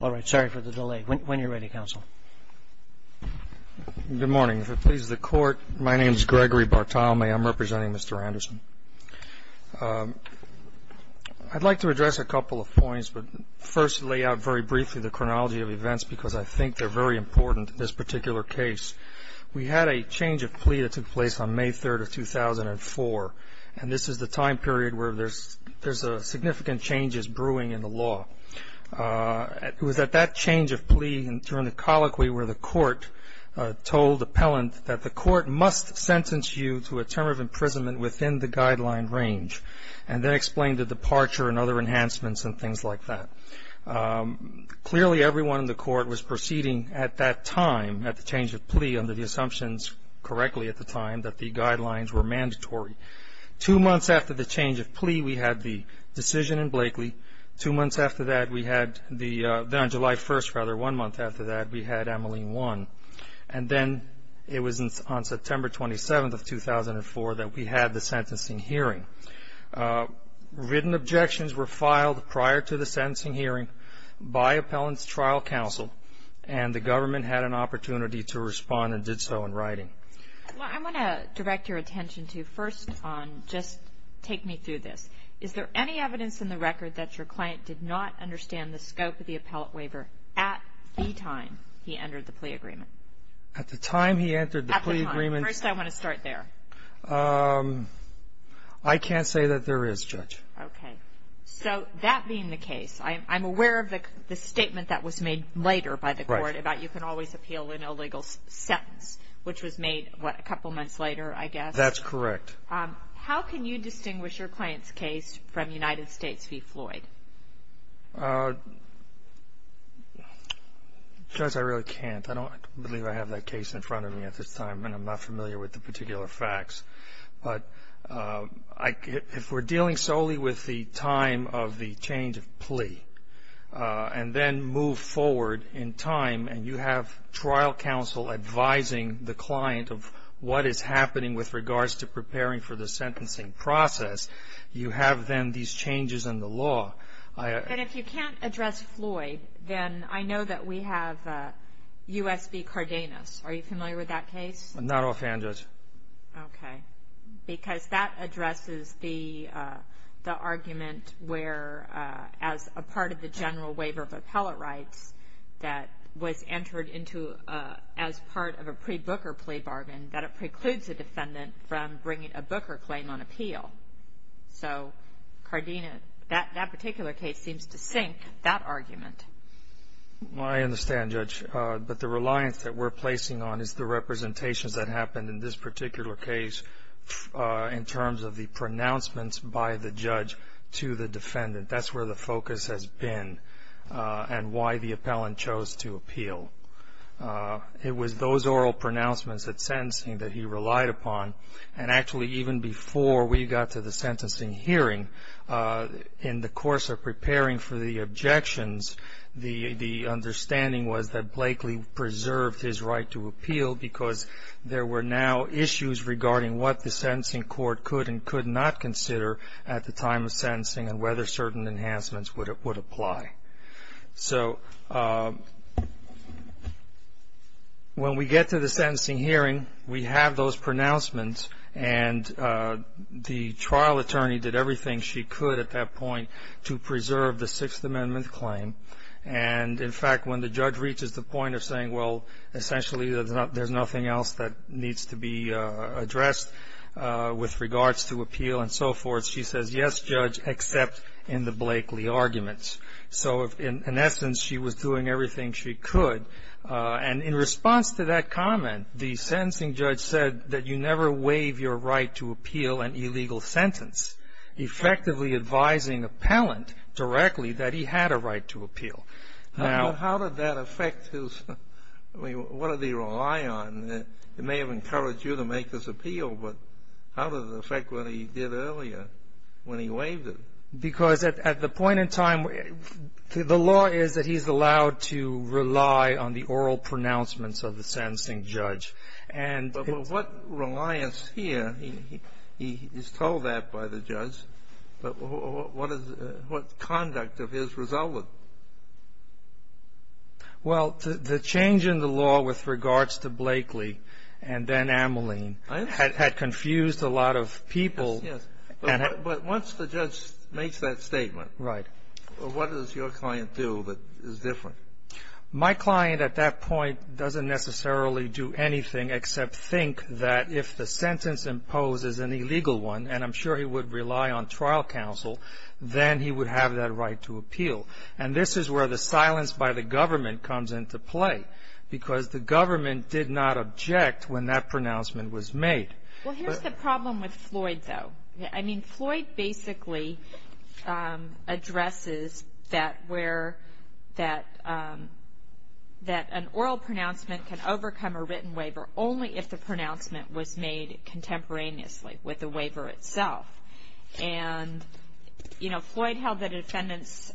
All right, sorry for the delay. When you're ready, counsel. Good morning. If it pleases the court, my name is Gregory Bartalme. I'm representing Mr. Anderson. I'd like to address a couple of points, but first lay out very briefly the chronology of events because I think they're very important in this particular case. We had a change of plea that took place on May 3rd of 2004, and this is the time period where there's significant changes brewing in the law. It was at that change of plea and during the colloquy where the court told the appellant that the court must sentence you to a term of imprisonment within the guideline range and then explain the departure and other enhancements and things like that. Clearly, everyone in the court was proceeding at that time, at the change of plea, under the assumptions correctly at the time that the guidelines were mandatory. Two months after the change of plea, we had the decision in Blakely. Two months after that, we had the – then on July 1st, rather, one month after that, we had Ameline 1. And then it was on September 27th of 2004 that we had the sentencing hearing. Written objections were filed prior to the sentencing hearing by appellant's trial counsel, and the government had an opportunity to respond and did so in writing. Well, I want to direct your attention to first on just take me through this. Is there any evidence in the record that your client did not understand the scope of the appellate waiver at the time he entered the plea agreement? At the time he entered the plea agreement? At the time. First, I want to start there. I can't say that there is, Judge. Okay. So that being the case, I'm aware of the statement that was made later by the court about you can always appeal in a legal sentence, which was made, what, a couple months later, I guess? That's correct. How can you distinguish your client's case from United States v. Floyd? Judge, I really can't. I don't believe I have that case in front of me at this time, and I'm not familiar with the particular facts. But if we're dealing solely with the time of the change of plea and then move forward in time and you have trial counsel advising the client of what is happening with regards to preparing for the sentencing process, you have then these changes in the law. And if you can't address Floyd, then I know that we have U.S. v. Cardenas. Are you familiar with that case? Not offhand, Judge. Okay. Because that addresses the argument where, as a part of the general waiver of appellate rights that was entered into as part of a pre-Booker plea bargain, that it precludes a defendant from bringing a Booker claim on appeal. So Cardenas, that particular case seems to sink that argument. Well, I understand, Judge. But the reliance that we're placing on is the representations that happened in this particular case in terms of the pronouncements by the judge to the defendant. That's where the focus has been and why the appellant chose to appeal. It was those oral pronouncements at sentencing that he relied upon. And actually, even before we got to the sentencing hearing, in the course of preparing for the objections, the understanding was that Blakely preserved his right to appeal because there were now issues regarding what the sentencing court could and could not consider at the time of sentencing and whether certain enhancements would apply. So when we get to the sentencing hearing, we have those pronouncements. And the trial attorney did everything she could at that point to preserve the Sixth Amendment claim. And, in fact, when the judge reaches the point of saying, well, essentially there's nothing else that needs to be addressed with regards to appeal and so forth, she says, yes, Judge, except in the Blakely arguments. So in essence, she was doing everything she could. And in response to that comment, the sentencing judge said that you never waive your right to appeal an illegal sentence, effectively advising appellant directly that he had a right to appeal. Now, how did that affect his ‑‑ I mean, what did he rely on? It may have encouraged you to make this appeal, but how did it affect what he did earlier when he waived it? Because at the point in time, the law is that he's allowed to rely on the oral pronouncements of the sentencing judge. But what reliance here, he's told that by the judge, but what conduct of his resulted? Well, the change in the law with regards to Blakely and then Ameline had confused a lot of people. But once the judge makes that statement, what does your client do that is different? My client at that point doesn't necessarily do anything except think that if the sentence imposes an illegal one, and I'm sure he would rely on trial counsel, then he would have that right to appeal. And this is where the silence by the government comes into play, because the government did not object when that pronouncement was made. Well, here's the problem with Floyd, though. I mean, Floyd basically addresses that an oral pronouncement can overcome a written waiver only if the pronouncement was made contemporaneously with the waiver itself. And, you know, Floyd held that a defendant's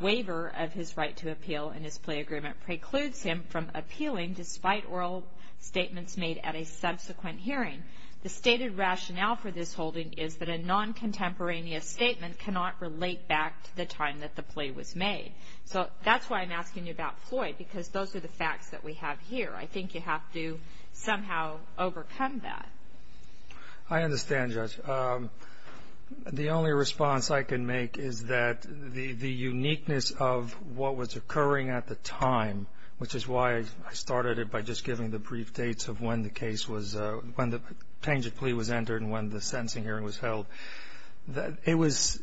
waiver of his right to appeal in his plea agreement precludes him from appealing despite oral statements made at a subsequent hearing. The stated rationale for this holding is that a non-contemporaneous statement cannot relate back to the time that the plea was made. So that's why I'm asking you about Floyd, because those are the facts that we have here. I think you have to somehow overcome that. I understand, Judge. The only response I can make is that the uniqueness of what was occurring at the time, which is why I started it by just giving the brief dates of when the case was, when the tangent plea was entered and when the sentencing hearing was held, it was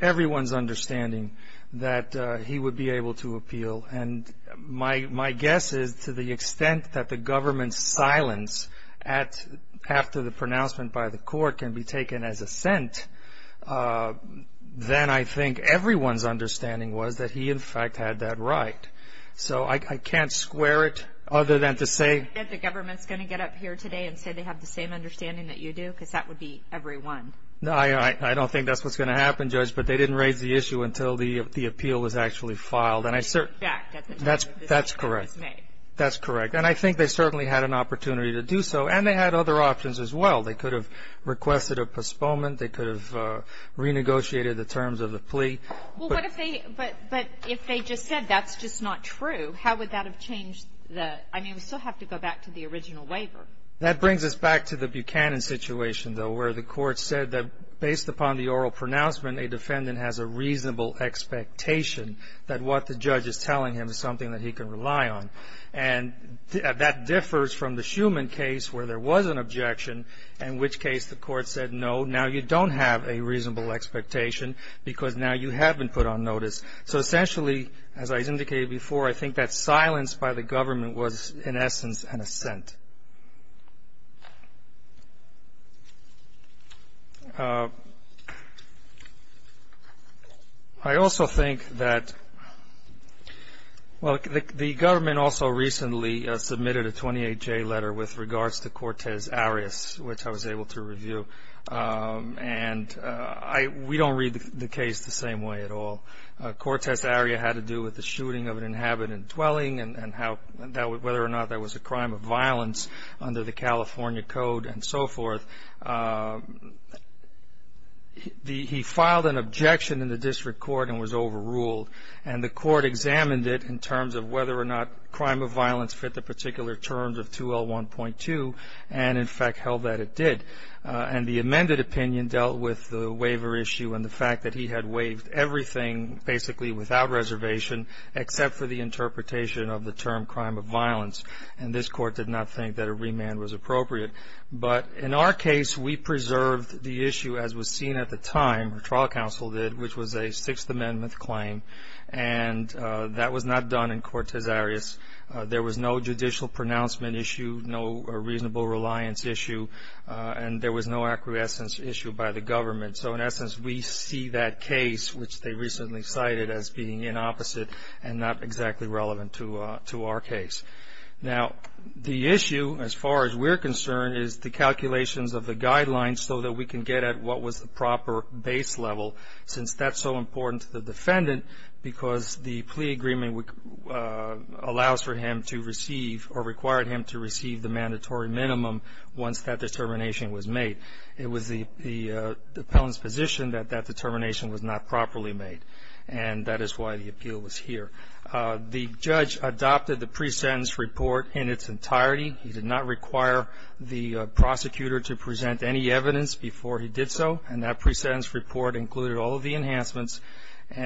everyone's understanding that he would be able to appeal. And my guess is to the extent that the government's silence after the pronouncement by the court can be taken as assent, then I think everyone's understanding was that he, in fact, had that right. So I can't square it other than to say the government's going to get up here today and say they have the same understanding that you do, because that would be everyone. I don't think that's what's going to happen, Judge, but they didn't raise the issue until the appeal was actually filed. And I certainly ---- That's correct. That's correct. And I think they certainly had an opportunity to do so, and they had other options as well. They could have requested a postponement. They could have renegotiated the terms of the plea. But if they just said that's just not true, how would that have changed the ---- I mean, we still have to go back to the original waiver. That brings us back to the Buchanan situation, though, where the court said that based upon the oral pronouncement, a defendant has a reasonable expectation that what the judge is telling him is something that he can rely on. And that differs from the Shuman case where there was an objection, in which case the court said, no, now you don't have a reasonable expectation because now you have been put on notice. So essentially, as I indicated before, I think that silence by the government was, in essence, an assent. I also think that, well, the government also recently submitted a 28-J letter with regards to Cortez Arias, which I was able to review. And we don't read the case the same way at all. Cortez Arias had to do with the shooting of an inhabitant dwelling and whether or not that was a crime of violence under the California Code and so forth. He filed an objection in the district court and was overruled. And the court examined it in terms of whether or not crime of violence fit the particular terms of 2L1.2 and, in fact, held that it did. And the amended opinion dealt with the waiver issue and the fact that he had waived everything basically without reservation, except for the interpretation of the term crime of violence. And this court did not think that a remand was appropriate. But in our case, we preserved the issue as was seen at the time, the trial counsel did, which was a Sixth Amendment claim. And that was not done in Cortez Arias. There was no judicial pronouncement issue, no reasonable reliance issue, and there was no acquiescence issue by the government. So, in essence, we see that case, which they recently cited as being inopposite and not exactly relevant to our case. Now, the issue, as far as we're concerned, is the calculations of the guidelines so that we can get at what was the proper base level, since that's so important to the defendant, because the plea agreement allows for him to receive or required him to receive the mandatory minimum once that determination was made. It was the appellant's position that that determination was not properly made, and that is why the appeal was here. The judge adopted the pre-sentence report in its entirety. He did not require the prosecutor to present any evidence before he did so, and that pre-sentence report included all of the enhancements,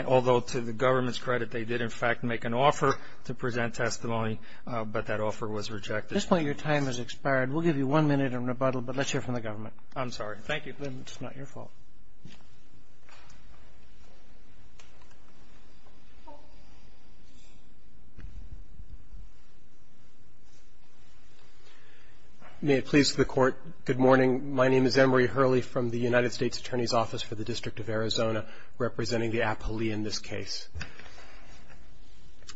although to the government's credit, they did, in fact, make an offer to present testimony, but that offer was rejected. Roberts. Your time has expired. We'll give you one minute of rebuttal, but let's hear from the government. I'm sorry. Thank you. It's not your fault. May it please the Court, good morning. My name is Emory Hurley from the United States Attorney's Office for the District of Arizona, representing the appellee in this case.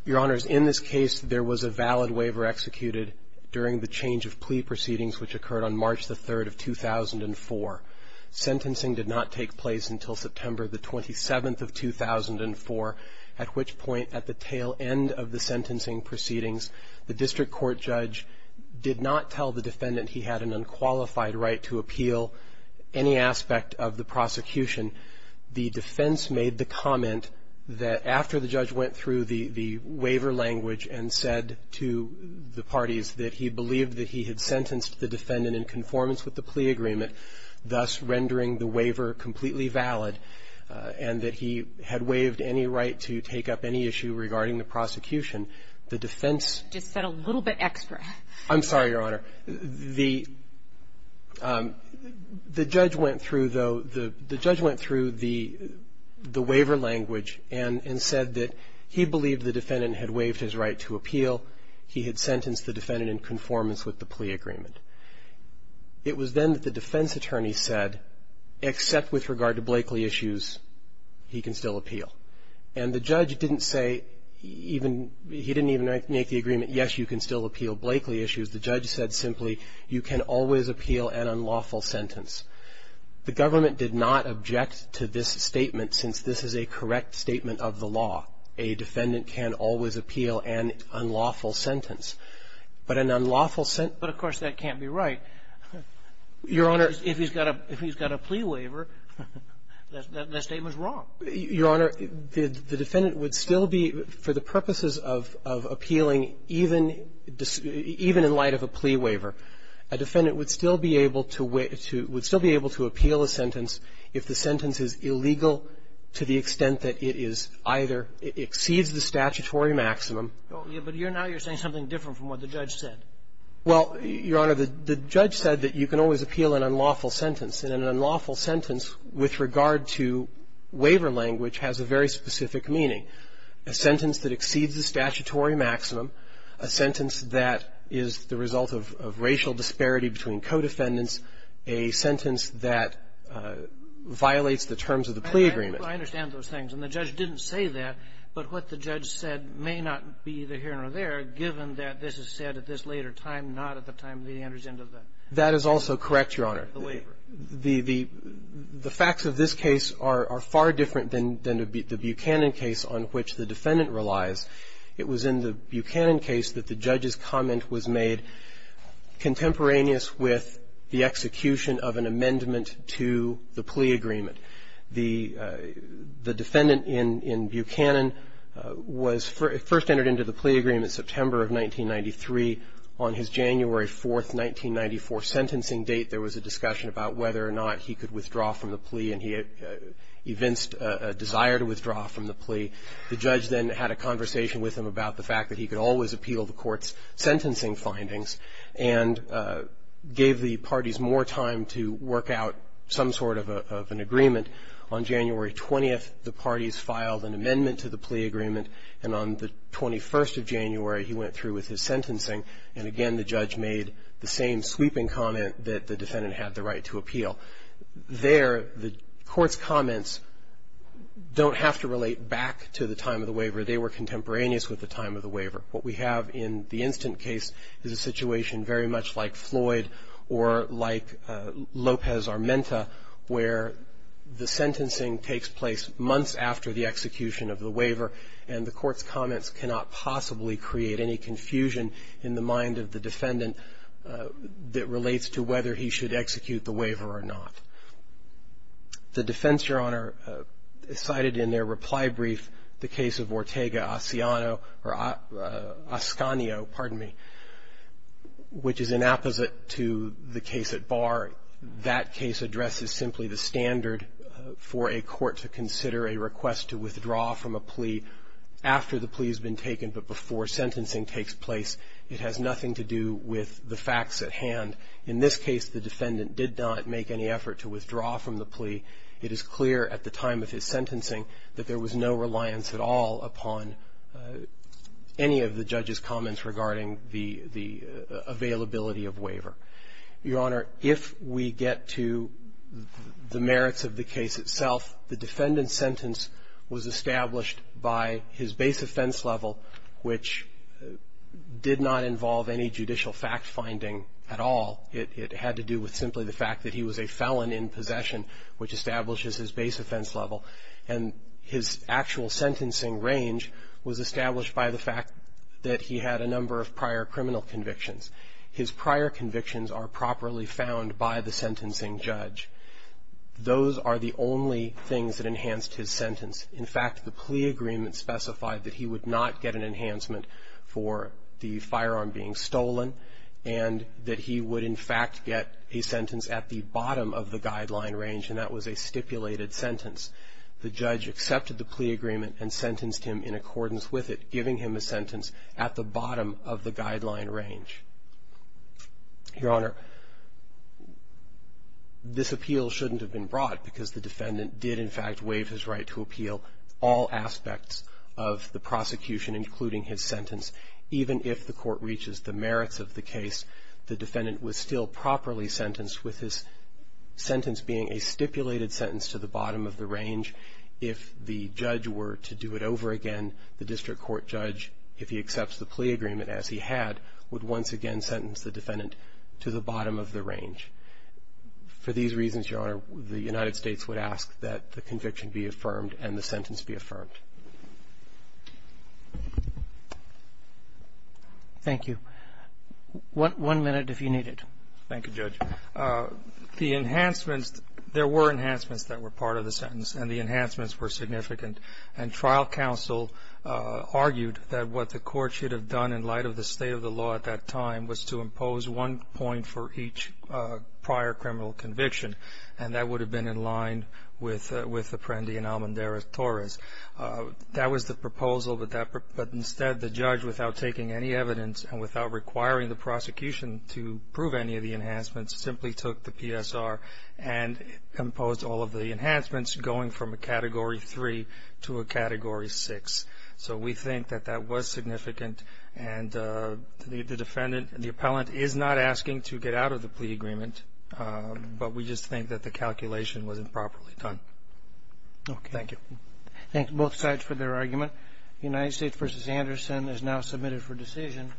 Your Honors, in this case, there was a valid waiver executed during the change of plea proceedings which occurred on March the 3rd of 2004. Sentencing did not take place until September the 27th of 2004, at which point at the tail end of the sentencing proceedings, the district court judge did not tell the defendant he had an unqualified right to appeal any aspect of the prosecution. The defense made the comment that after the judge went through the waiver language and said to the parties that he believed that he had sentenced the defendant in conformance with the plea agreement, thus rendering the waiver completely valid, and that he had waived any right to take up any issue regarding the prosecution, the defense. Just said a little bit extra. I'm sorry, Your Honor. The judge went through, though, the judge went through the waiver language and said that he believed the defendant had waived his right to appeal. He had sentenced the defendant in conformance with the plea agreement. It was then that the defense attorney said, except with regard to Blakeley issues, he can still appeal. And the judge didn't say even, he didn't even make the agreement, yes, you can still appeal Blakeley issues. The judge said simply, you can always appeal an unlawful sentence. The government did not object to this statement, since this is a correct statement of the law. A defendant can always appeal an unlawful sentence. But an unlawful sentence But, of course, that can't be right. Your Honor. If he's got a plea waiver, that statement's wrong. Your Honor, the defendant would still be, for the purposes of appealing, even in light of a plea waiver. A defendant would still be able to appeal a sentence if the sentence is illegal to the extent that it is either exceeds the statutory maximum. But now you're saying something different from what the judge said. Well, Your Honor, the judge said that you can always appeal an unlawful sentence, and an unlawful sentence with regard to waiver language has a very specific meaning. A sentence that exceeds the statutory maximum, a sentence that is the result of racial disparity between co-defendants, a sentence that violates the terms of the plea agreement. I understand those things. And the judge didn't say that. But what the judge said may not be either here or there, given that this is said at this later time, not at the time that he enters into the waiver. That is also correct, Your Honor. The facts of this case are far different than the Buchanan case on which the defendant relies. It was in the Buchanan case that the judge's comment was made contemporaneous with the execution of an amendment to the plea agreement. The defendant in Buchanan was first entered into the plea agreement September of 1993. On his January 4, 1994, sentencing date, there was a discussion about whether or not he could withdraw from the plea, and he evinced a desire to withdraw from the plea. The judge then had a conversation with him about the fact that he could always appeal the court's sentencing findings and gave the parties more time to work out some sort of an agreement. On January 20th, the parties filed an amendment to the plea agreement, and on the 21st of January, he went through with his sentencing, and again the judge made the same sweeping comment that the defendant had the right to appeal. There, the court's comments don't have to relate back to the time of the waiver. They were contemporaneous with the time of the waiver. What we have in the instant case is a situation very much like Floyd or like Lopez-Armenta, where the sentencing takes place months after the execution of the waiver, and the court's comments cannot possibly create any confusion in the mind of the defendant that relates to whether he should execute the waiver or not. The defense, Your Honor, cited in their reply brief the case of Ortega-Ascanio, pardon me, which is an apposite to the case at bar. That case addresses simply the standard for a court to consider a request to withdraw from a plea after the plea has been taken but before sentencing takes place. It has nothing to do with the facts at hand. In this case, the defendant did not make any effort to withdraw from the plea. It is clear at the time of his sentencing that there was no reliance at all upon any of the judge's comments regarding the availability of waiver. Your Honor, if we get to the merits of the case itself, the defendant's sentence was established by his base offense level, which did not involve any judicial fact-finding at all. It had to do with simply the fact that he was a felon in possession, which establishes his base offense level. And his actual sentencing range was established by the fact that he had a number of prior criminal convictions. His prior convictions are properly found by the sentencing judge. Those are the only things that enhanced his sentence. In fact, the plea agreement specified that he would not get an enhancement for the firearm being stolen and that he would in fact get a sentence at the bottom of the guideline range, and that was a stipulated sentence. The judge accepted the plea agreement and sentenced him in accordance with it, giving him a sentence at the bottom of the guideline range. Your Honor, this appeal shouldn't have been brought because the defendant did in fact waive his right to appeal all aspects of the prosecution, including his sentence. Even if the court reaches the merits of the case, the defendant was still properly sentenced with his sentence being a stipulated sentence to the bottom of the range. If the judge were to do it over again, the district court judge, if he accepts the plea agreement as he had, would once again sentence the defendant to the bottom of the range. For these reasons, Your Honor, the United States would ask that the conviction be affirmed and the sentence be affirmed. Thank you. One minute if you need it. Thank you, Judge. The enhancements, there were enhancements that were part of the sentence, and the enhancements were significant. And trial counsel argued that what the court should have done in light of the state of the law at that time was to impose one point for each prior criminal conviction, and that would have been in line with Apprendi and Almendarez-Torres. That was the proposal, but instead the judge, without taking any evidence and without requiring the prosecution to prove any of the enhancements, simply took the PSR and imposed all of the enhancements going from a Category 3 to a Category 6. So we think that that was significant, and the defendant, the appellant, is not asking to get out of the plea agreement, but we just think that the calculation was improperly done. Okay. Thank you. Thank both sides for their argument. United States v. Anderson is now submitted for decision.